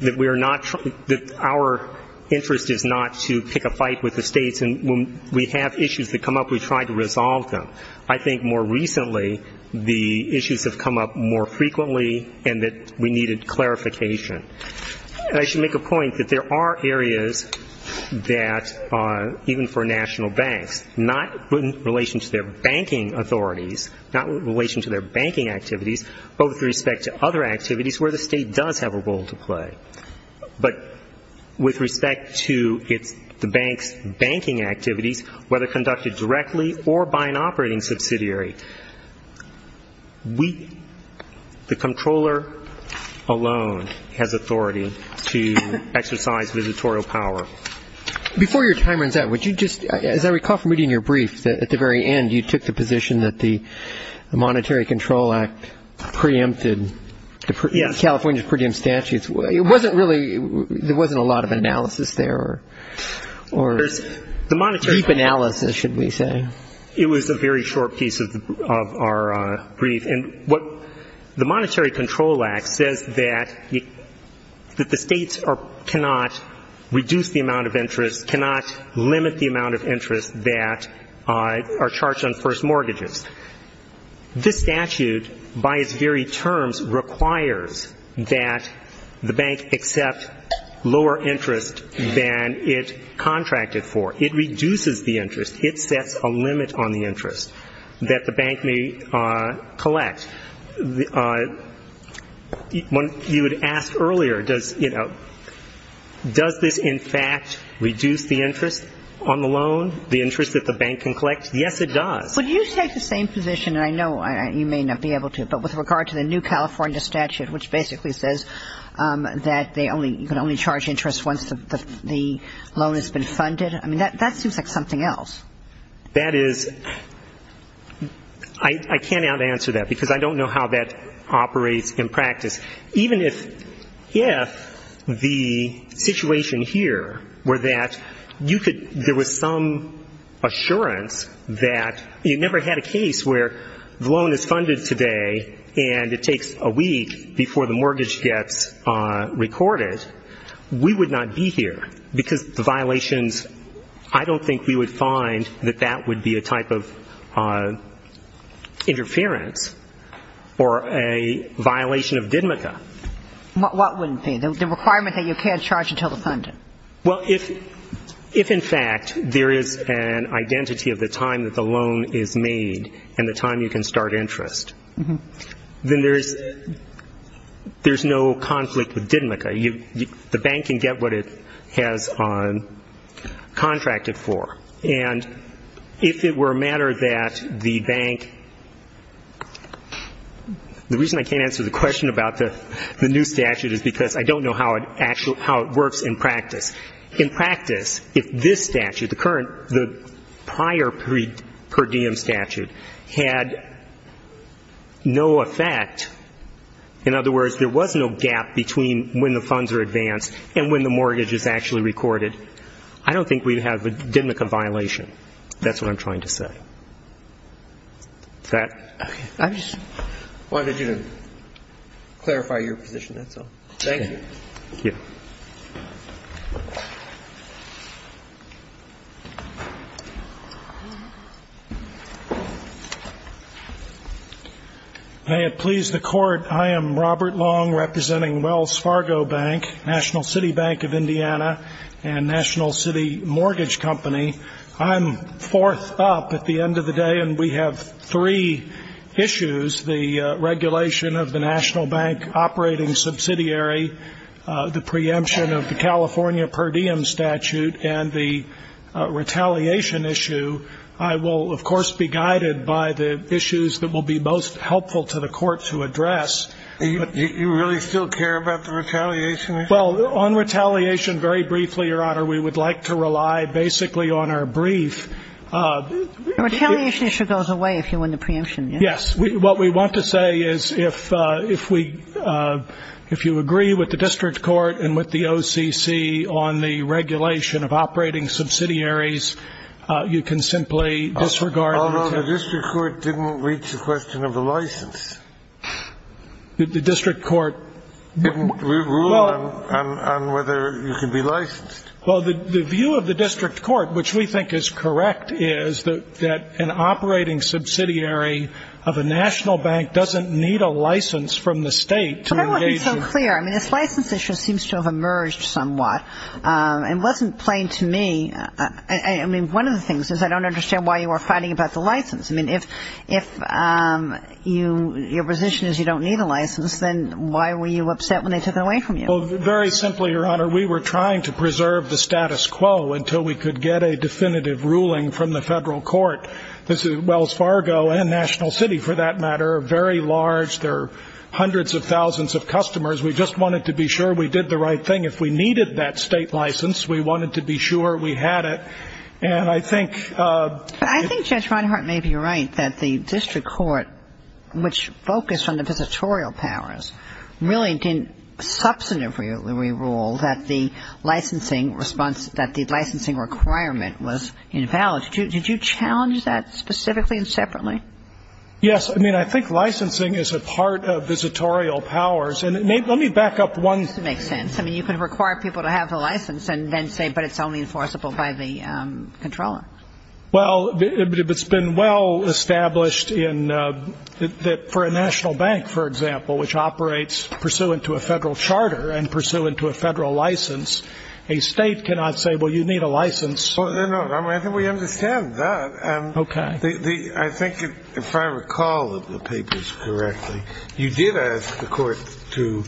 that we are not ‑‑ that our interest is not to pick a fight with the states, and when we have issues that come up, we try to resolve them. I think more recently the issues have come up more frequently and that we needed clarification. And I should make a point that there are areas that, even for national banks, not in relation to their banking authorities, not in relation to their banking activities, but with respect to other activities where the state does have a role to play. But with respect to the bank's banking activities, whether conducted directly or by an operating subsidiary, the Comptroller alone has authority to exercise visitorial power. Before your time runs out, would you just, as I recall from reading your brief, at the very end you took the position that the Monetary Control Act preempted California's per diem statutes. It wasn't really, there wasn't a lot of analysis there, or deep analysis, should we say. It was a very short piece of our brief. The Monetary Control Act says that the states cannot reduce the amount of interest, cannot limit the amount of interest that are charged on first mortgages. This statute, by its very terms, requires that the bank accept lower interest than it contracted for. It reduces the interest. It sets a limit on the interest that the bank may collect. You had asked earlier, does this in fact reduce the interest on the loan, the interest that the bank can collect? Yes, it does. Would you take the same position, and I know you may not be able to, but with regard to the new California statute which basically says that you can only charge interest once the loan has been funded? I mean, that seems like something else. That is, I can't answer that because I don't know how that operates in practice. Even if the situation here were that you could, there was some assurance that, you never had a case where the loan is funded today and it takes a week before the mortgage gets recorded, we would not be here because of the violations. I don't think we would find that that would be a type of interference or a violation of DIDMCA. What wouldn't be? The requirement that you can't charge until the funding? Well, if in fact there is an identity of the time that the loan is made and the time you can start interest, then there is no conflict with DIDMCA. The bank can get what it has contracted for. And if it were a matter that the bank, the reason I can't answer the question about the new statute is because I don't know how it works in practice. In practice, if this statute, the current, the prior per diem statute, had no effect, in other words, there was no gap between when the funds are advanced and when the mortgage is actually recorded, I don't think we would have a DIDMCA violation. That's what I'm trying to say. Is that? I just wanted you to clarify your position, that's all. Thank you. Thank you. Thank you. May it please the Court, I am Robert Long, representing Wells Fargo Bank, National City Bank of Indiana, and National City Mortgage Company. I'm fourth up at the end of the day, and we have three issues, the regulation of the National Bank operating subsidiary, the preemption of the California per diem statute, and the retaliation issue. I will, of course, be guided by the issues that will be most helpful to the Court to address. You really still care about the retaliation issue? Well, on retaliation, very briefly, Your Honor, we would like to rely basically on our brief. The retaliation issue goes away if you win the preemption, yes? Yes. What we want to say is if you agree with the district court and with the OCC on the regulation of operating subsidiaries, you can simply disregard them. Although the district court didn't reach the question of the license. The district court? Didn't rule on whether you can be licensed. Well, the view of the district court, which we think is correct, is that an operating subsidiary of a national bank doesn't need a license from the state to engage in. But I want to be so clear. I mean, this license issue seems to have emerged somewhat, and wasn't plain to me. I mean, one of the things is I don't understand why you were fighting about the license. I mean, if your position is you don't need a license, then why were you upset when they took it away from you? Well, very simply, Your Honor, we were trying to preserve the status quo until we could get a definitive ruling from the federal court. Wells Fargo and National City, for that matter, are very large. There are hundreds of thousands of customers. We just wanted to be sure we did the right thing. If we needed that state license, we wanted to be sure we had it. And I think ---- I think Judge Reinhart may be right that the district court, which focused on the visitorial powers, really didn't substantively rule that the licensing requirement was invalid. Did you challenge that specifically and separately? Yes. I mean, I think licensing is a part of visitorial powers. And let me back up one thing. It makes sense. I mean, you could require people to have the license and then say, but it's only enforceable by the comptroller. Well, it's been well established that for a national bank, for example, which operates pursuant to a federal charter and pursuant to a federal license, a state cannot say, well, you need a license. No, no. I think we understand that. Okay. I think if I recall the papers correctly, you did ask the court to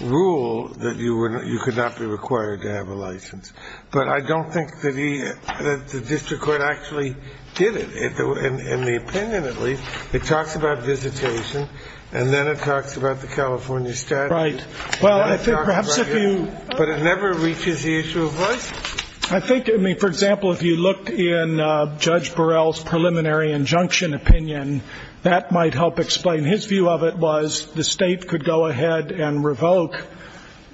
rule that you could not be required to have a license. But I don't think that the district court actually did it. In the opinion, at least, it talks about visitation, and then it talks about the California statute. Right. Well, I think perhaps if you ---- But it never reaches the issue of licensing. I think, I mean, for example, if you looked in Judge Burrell's preliminary injunction opinion, that might help explain. His view of it was the state could go ahead and revoke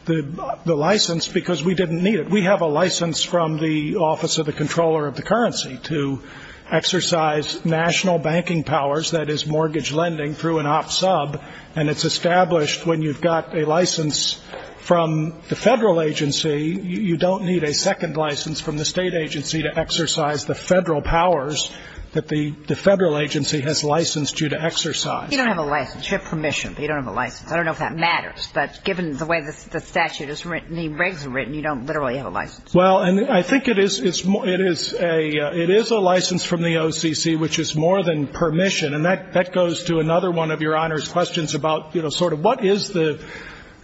the license because we didn't need it. We have a license from the Office of the Comptroller of the Currency to exercise national banking powers, that is, mortgage lending through an off-sub. And it's established when you've got a license from the federal agency, you don't need a second license from the state agency to exercise the federal powers that the federal agency has licensed you to exercise. You don't have a license. You have permission, but you don't have a license. I don't know if that matters. But given the way the statute is written, the regs are written, you don't literally have a license. Well, and I think it is a license from the OCC, which is more than permission. And that goes to another one of Your Honor's questions about sort of what is the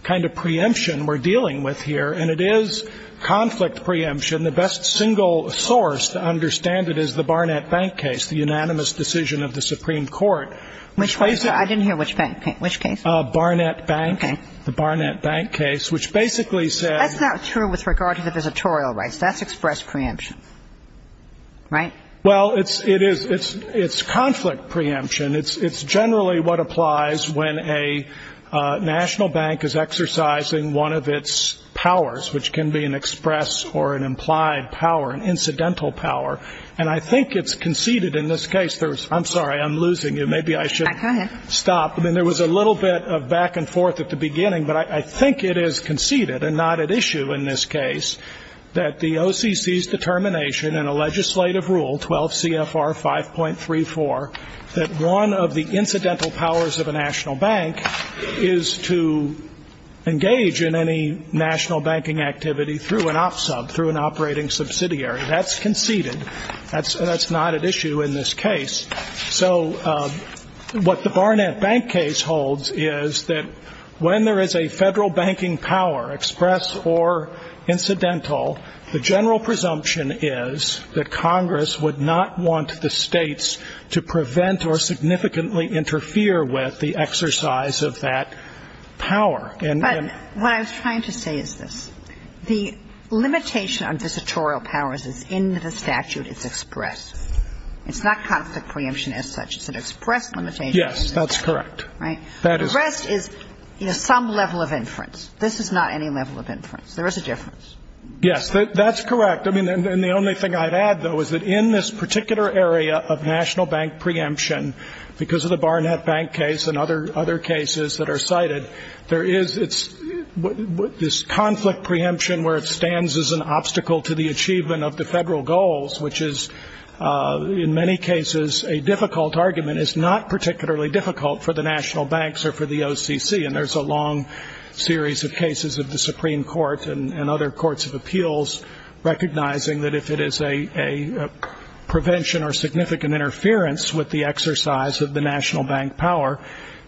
kind of preemption we're dealing with here. And it is conflict preemption. The best single source to understand it is the Barnett Bank case, the unanimous decision of the Supreme Court. Which case? I didn't hear which case. Barnett Bank. Okay. The Barnett Bank case, which basically said. That's not true with regard to the visitorial rights. That's express preemption. Right? Well, it's conflict preemption. It's generally what applies when a national bank is exercising one of its powers, which can be an express or an implied power, an incidental power. And I think it's conceded in this case. I'm sorry. I'm losing you. Maybe I should stop. Go ahead. I mean, there was a little bit of back and forth at the beginning. But I think it is conceded, and not at issue in this case, that the OCC's determination in a legislative rule, 12 CFR 5.34, that one of the incidental powers of a national bank is to engage in any national banking activity through an op sub, through an operating subsidiary. That's conceded. That's not at issue in this case. So what the Barnett Bank case holds is that when there is a Federal banking power, express or incidental, the general presumption is that Congress would not want the States to prevent or significantly interfere with the exercise of that power. But what I was trying to say is this. The limitation on visitorial powers is in the statute. It's expressed. It's not conflict preemption as such. It's an expressed limitation. Yes, that's correct. Right? The rest is, you know, some level of inference. This is not any level of inference. There is a difference. Yes. That's correct. I mean, and the only thing I'd add, though, is that in this particular area of national bank preemption, because of the Barnett Bank case and other cases that are cited, there is this conflict preemption where it stands as an obstacle to the achievement of the Federal goals, which is, in many cases, a difficult argument. It's not particularly difficult for the national banks or for the OCC. And there's a long series of cases of the Supreme Court and other courts of appeals recognizing that if it is a prevention or significant interference with the exercise of the national bank power,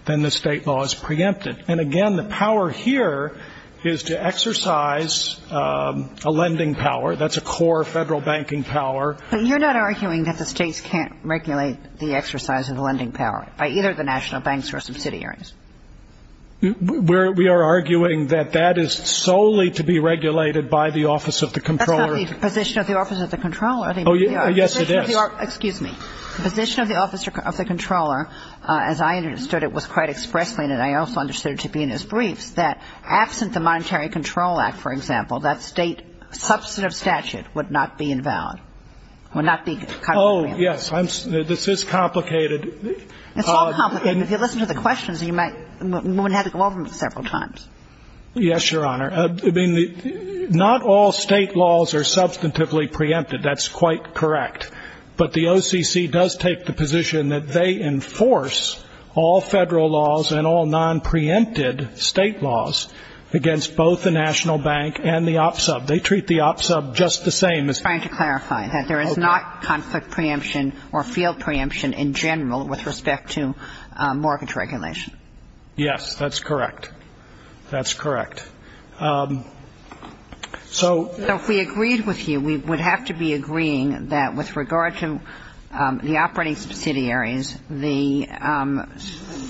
then the state law is preempted. And, again, the power here is to exercise a lending power. That's a core Federal banking power. But you're not arguing that the states can't regulate the exercise of the lending power by either the national banks or subsidiaries. We are arguing that that is solely to be regulated by the office of the controller. That's not the position of the office of the controller. Oh, yes, it is. Excuse me. The position of the office of the controller, as I understood it was quite expressly, and I also understood it to be in his briefs, that absent the Monetary Control Act, for example, that state substantive statute would not be invalid, would not be cut. Oh, yes. This is complicated. It's all complicated. If you listen to the questions, you might have to go over them several times. Yes, Your Honor. I mean, not all state laws are substantively preempted. That's quite correct. But the OCC does take the position that they enforce all Federal laws and all nonpreempted state laws against both the national bank and the OPSUB. They treat the OPSUB just the same. I'm trying to clarify that there is not conflict preemption or field preemption in general with respect to mortgage regulation. Yes, that's correct. That's correct. So if we agreed with you, we would have to be agreeing that with regard to the operating subsidiaries, the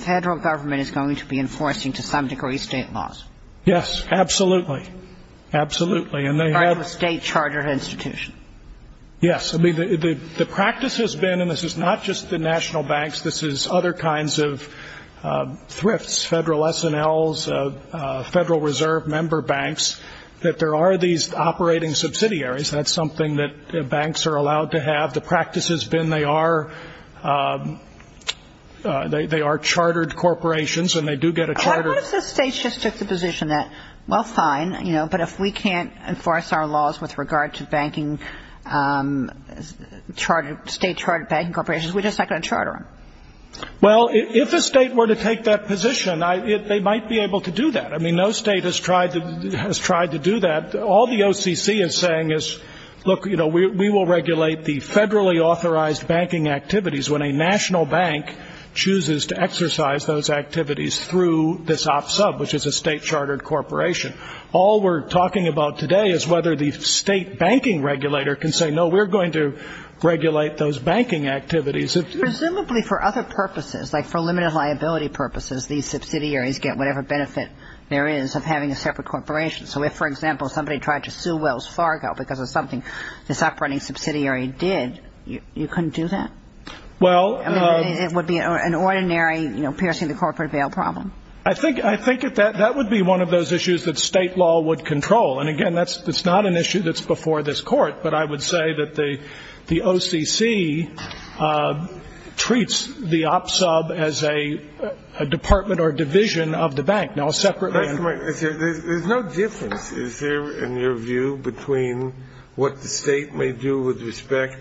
Federal Government is going to be enforcing to some degree state laws? Yes, absolutely. Absolutely. By the state chartered institution. Yes. I mean, the practice has been, and this is not just the national banks, this is other kinds of thrifts, Federal S&Ls, Federal Reserve member banks, that there are these operating subsidiaries. That's something that banks are allowed to have. The practice has been they are chartered corporations and they do get a charter. What if the state just took the position that, well, fine, you know, but if we can't enforce our laws with regard to state chartered banking corporations, we're just not going to charter them? Well, if the state were to take that position, they might be able to do that. I mean, no state has tried to do that. All the OCC is saying is, look, you know, we will regulate the federally authorized banking activities when a national bank chooses to exercise those activities through this op sub, which is a state chartered corporation. All we're talking about today is whether the state banking regulator can say, no, we're going to regulate those banking activities. Presumably for other purposes, like for limited liability purposes, these subsidiaries get whatever benefit there is of having a separate corporation. So if, for example, somebody tried to sue Wells Fargo because of something this operating subsidiary did, you couldn't do that? It would be an ordinary, you know, piercing the corporate bail problem. I think that would be one of those issues that state law would control. And, again, that's not an issue that's before this court, but I would say that the OCC treats the op sub as a department or division of the bank. There's no difference, is there, in your view, between what the state may do with respect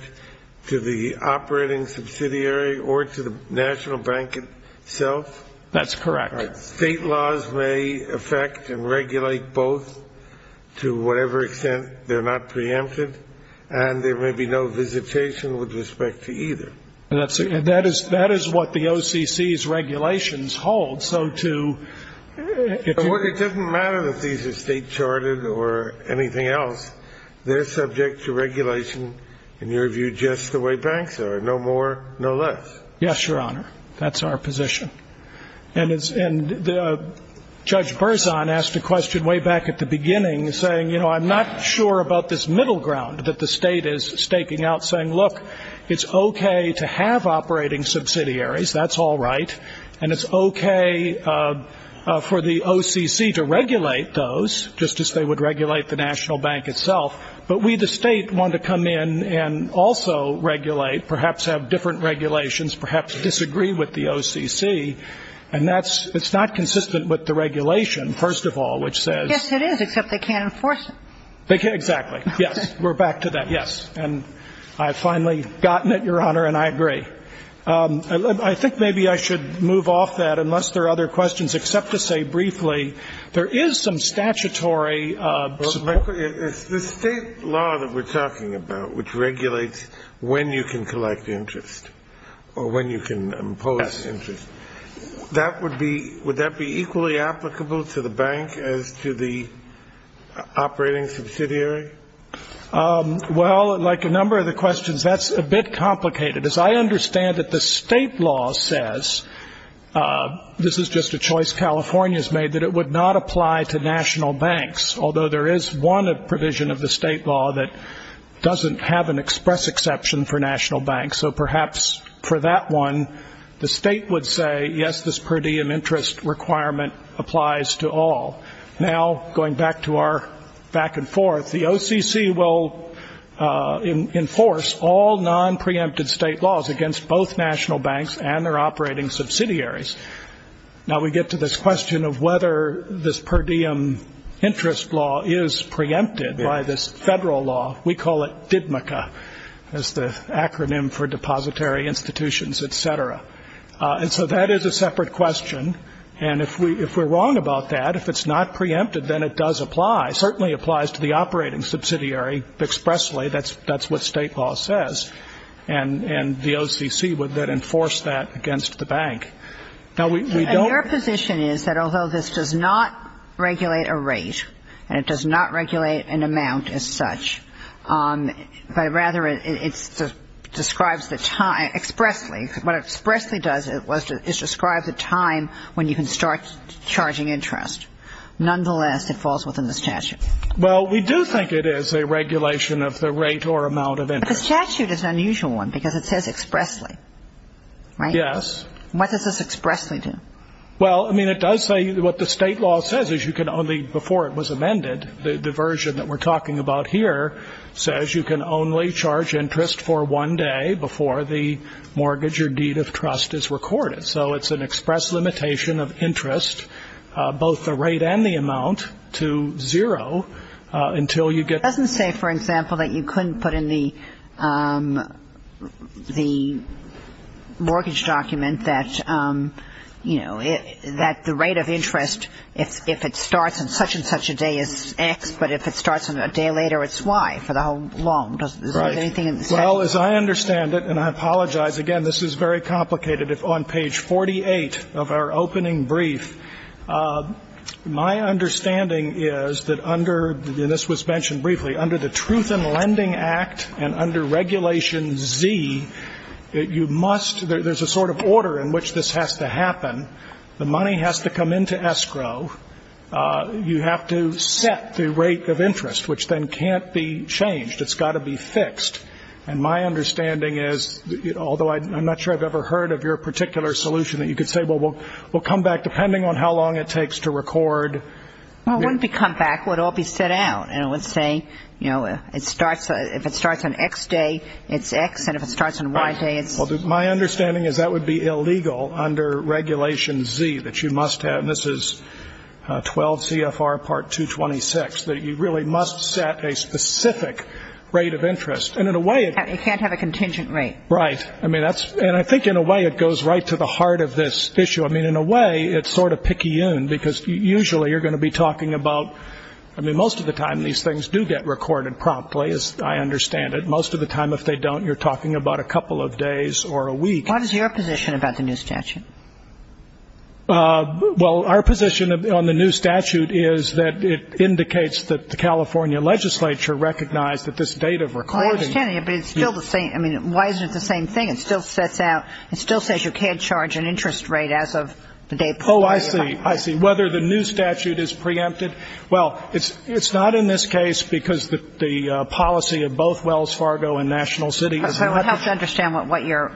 to the operating subsidiary or to the national bank itself? That's correct. State laws may affect and regulate both to whatever extent they're not preempted, and there may be no visitation with respect to either. That is what the OCC's regulations hold. So to ---- Well, it doesn't matter that these are state-charted or anything else. They're subject to regulation, in your view, just the way banks are, no more, no less. Yes, Your Honor. That's our position. And Judge Berzon asked a question way back at the beginning, saying, you know, that's all right, and it's okay for the OCC to regulate those, just as they would regulate the national bank itself. But we, the state, want to come in and also regulate, perhaps have different regulations, perhaps disagree with the OCC. And that's not consistent with the regulation, first of all, which says ---- Yes, it is, except they can't enforce it. Exactly. Yes. We're back to that. Yes. And I've finally gotten it, Your Honor, and I agree. I think maybe I should move off that, unless there are other questions, except to say briefly, there is some statutory ---- It's the state law that we're talking about, which regulates when you can collect interest or when you can impose interest. Yes. That would be, would that be equally applicable to the bank as to the operating subsidiary? Well, like a number of the questions, that's a bit complicated. As I understand it, the state law says, this is just a choice California has made, that it would not apply to national banks, although there is one provision of the state law that doesn't have an express exception for national banks. So perhaps for that one, the state would say, yes, this per diem interest requirement applies to all. Now, going back to our back and forth, the OCC will enforce all nonpreempted state laws against both national banks and their operating subsidiaries. Now, we get to this question of whether this per diem interest law is preempted by this federal law. We call it DIDMCA. That's the acronym for Depository Institutions, et cetera. And so that is a separate question. And if we're wrong about that, if it's not preempted, then it does apply, certainly applies to the operating subsidiary expressly. That's what state law says. And the OCC would then enforce that against the bank. Now, we don't ---- And your position is that although this does not regulate a rate, and it does not regulate an amount as such, but rather it describes the time expressly, what it expressly does is describe the time when you can start charging interest. Nonetheless, it falls within the statute. Well, we do think it is a regulation of the rate or amount of interest. But the statute is an unusual one because it says expressly, right? Yes. What does this expressly do? Well, I mean, it does say what the state law says is you can only, before it was amended, the version that we're talking about here says you can only charge interest for one day before the mortgage or deed of trust is recorded. So it's an express limitation of interest, both the rate and the amount, to zero until you get ---- It doesn't say, for example, that you couldn't put in the mortgage document that, you know, that the rate of interest, if it starts on such and such a day, is X, but if it starts on a day later, it's Y for the whole long. Right. Does it say anything in the statute? Well, as I understand it, and I apologize, again, this is very complicated. On page 48 of our opening brief, my understanding is that under the ---- and this was mentioned briefly. Under the Truth in Lending Act and under Regulation Z, you must ---- there's a sort of order in which this has to happen. The money has to come into escrow. You have to set the rate of interest, which then can't be changed. It's got to be fixed. And my understanding is, although I'm not sure I've ever heard of your particular solution, that you could say, well, we'll come back depending on how long it takes to record. Well, it wouldn't be come back. It would all be set out. And it would say, you know, if it starts on X day, it's X, and if it starts on Y day, it's ---- Well, my understanding is that would be illegal under Regulation Z, that you must have, and this is 12 CFR Part 226, that you really must set a specific rate of interest. And in a way it ---- It can't have a contingent rate. Right. I mean, that's ---- and I think in a way it goes right to the heart of this issue. I mean, in a way, it's sort of picayune, because usually you're going to be talking about ---- I mean, most of the time, these things do get recorded promptly, as I understand it. Most of the time, if they don't, you're talking about a couple of days or a week. What is your position about the new statute? Well, our position on the new statute is that it indicates that the California legislature recognized that this date of recording ---- Well, I understand that, but it's still the same. I mean, why isn't it the same thing? It still sets out ---- it still says you can't charge an interest rate as of the date of recording. Oh, I see. I see. Whether the new statute is preempted. Well, it's not in this case because the policy of both Wells Fargo and National City is not ---- So it helps to understand what your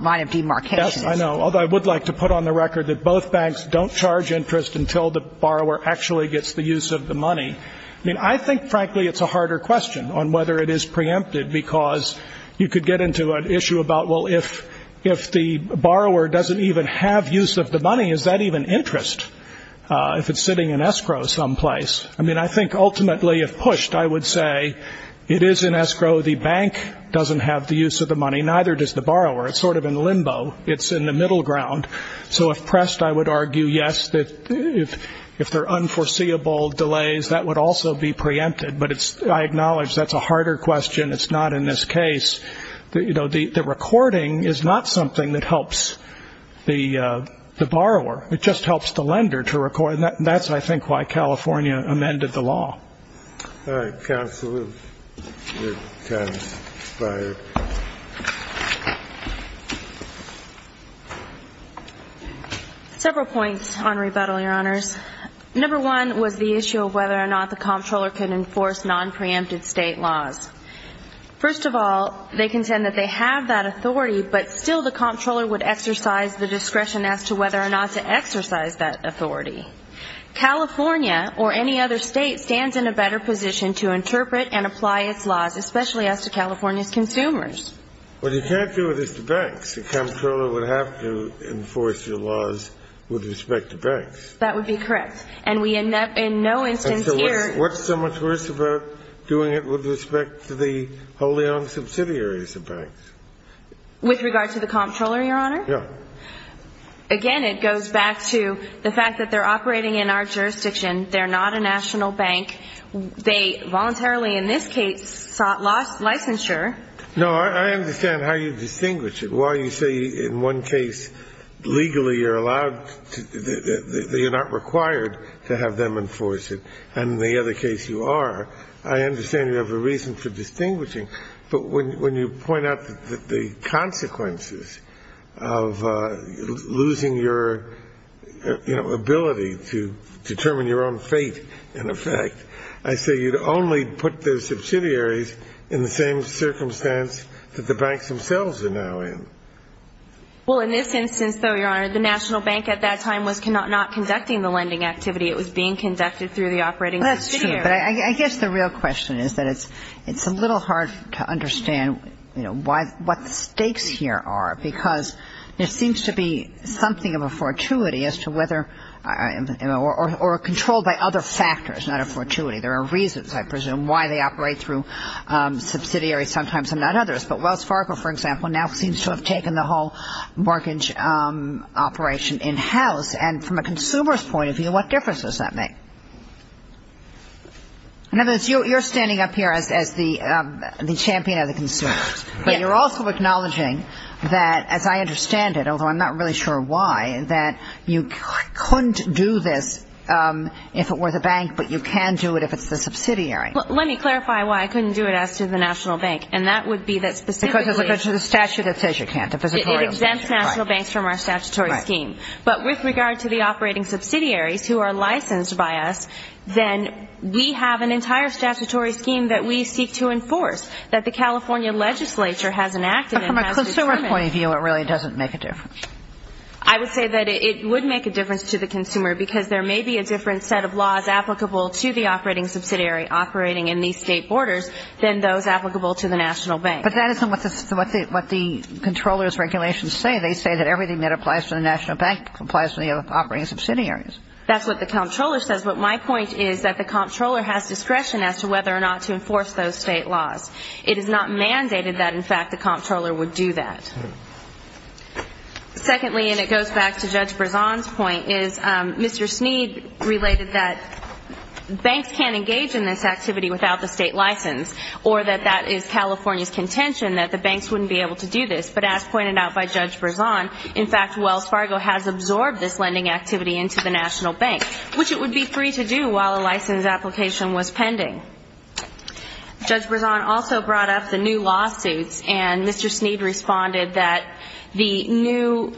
line of demarcation is. Yes, I know. Although I would like to put on the record that both banks don't charge interest until the borrower actually gets the use of the money. I mean, I think, frankly, it's a harder question on whether it is preempted because you could get into an issue about, well, if the borrower doesn't even have use of the money, is that even interest if it's sitting in escrow someplace? I mean, I think ultimately if pushed, I would say it is in escrow. The bank doesn't have the use of the money, neither does the borrower. It's sort of in limbo. It's in the middle ground. So if pressed, I would argue, yes, that if there are unforeseeable delays, that would also be preempted. But I acknowledge that's a harder question. It's not in this case. The recording is not something that helps the borrower. It just helps the lender to record. And that's, I think, why California amended the law. All right. Counsel, you're kind of expired. Several points on rebuttal, Your Honors. Number one was the issue of whether or not the comptroller can enforce nonpreempted State laws. First of all, they contend that they have that authority, but still the comptroller would exercise the discretion as to whether or not to exercise that authority. California, or any other State, stands in a better position to interpret and apply its laws, especially as to California's consumers. But you can't do this to banks. The comptroller would have to enforce your laws with respect to banks. That would be correct. And we, in no instance here... And so what's so much worse about doing it with respect to the wholly-owned subsidiaries of banks? With regard to the comptroller, Your Honor? Yeah. Again, it goes back to the fact that they're operating in our jurisdiction. They're not a national bank. They voluntarily, in this case, sought licensure. No, I understand how you distinguish it. While you say, in one case, legally you're not required to have them enforce it, and in the other case you are, I understand you have a reason for distinguishing. But when you point out the consequences of losing your, you know, ability to determine your own fate in effect, I say you'd only put the subsidiaries in the same circumstance that the banks themselves are now in. Well, in this instance, though, Your Honor, the national bank at that time was not conducting the lending activity. It was being conducted through the operating subsidiary. That's true. But I guess the real question is that it's a little hard to understand, you know, what the stakes here are, because there seems to be something of a fortuity as to whether or controlled by other factors, not a fortuity. There are reasons, I presume, why they operate through subsidiaries sometimes and not others. But Wells Fargo, for example, now seems to have taken the whole mortgage operation in-house. And from a consumer's point of view, what difference does that make? In other words, you're standing up here as the champion of the consumer. But you're also acknowledging that, as I understand it, although I'm not really sure why, that you couldn't do this if it were the bank, but you can do it if it's the subsidiary. Let me clarify why I couldn't do it as to the national bank. And that would be that specifically to the statute that says you can't. It exempts national banks from our statutory scheme. But with regard to the operating subsidiaries who are licensed by us, then we have an entire statutory scheme that we seek to enforce, that the California legislature has enacted and has determined. But from a consumer point of view, it really doesn't make a difference. I would say that it would make a difference to the consumer, because there may be a different set of laws applicable to the operating subsidiary operating in these state borders than those applicable to the national bank. But that isn't what the controller's regulations say. They say that everything that applies to the national bank applies to the operating subsidiaries. That's what the controller says. But my point is that the controller has discretion as to whether or not to enforce those state laws. It is not mandated that, in fact, the controller would do that. Secondly, and it goes back to Judge Berzon's point, is Mr. Sneed related that banks can't engage in this activity without the state license, or that that is California's contention that the banks wouldn't be able to do this. But as pointed out by Judge Berzon, in fact, Wells Fargo has absorbed this lending activity into the national bank, which it would be free to do while a license application was pending. Judge Berzon also brought up the new lawsuits, and Mr. Sneed responded that the new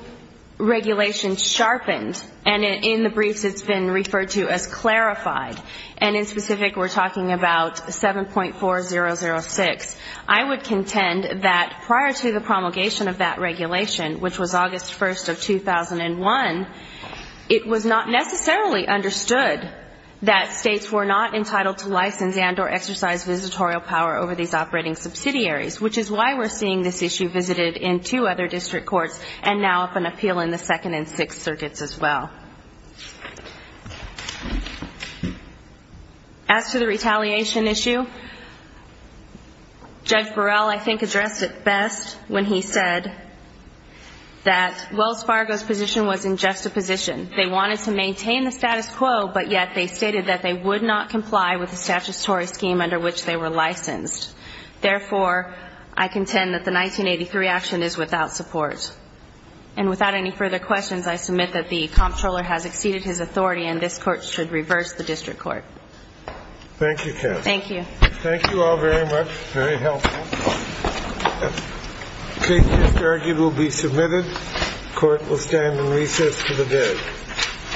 regulation sharpened, and in the briefs it's been referred to as clarified, and in specific we're talking about 7.4006. I would contend that prior to the promulgation of that regulation, which was August 1st of 2001, it was not necessarily understood that states were not entitled to license and or exercise visitorial power over these operating subsidiaries, which is why we're seeing this issue visited in two other district courts and now up in appeal in the Second and Sixth Circuits as well. As to the retaliation issue, Judge Burrell, I think, addressed it best when he said that Wells Fargo's position wasn't just a position. They wanted to maintain the status quo, but yet they stated that they would not comply with the statutory scheme under which they were licensed. Therefore, I contend that the 1983 action is without support. And without any further questions, I submit that the comptroller has exceeded his authority and this Court should reverse the district court. Thank you, counsel. Thank you. Thank you all very much. Very helpful. The case is argued and will be submitted. The Court will stand in recess for the day. Thank you. Thank you. Thank you.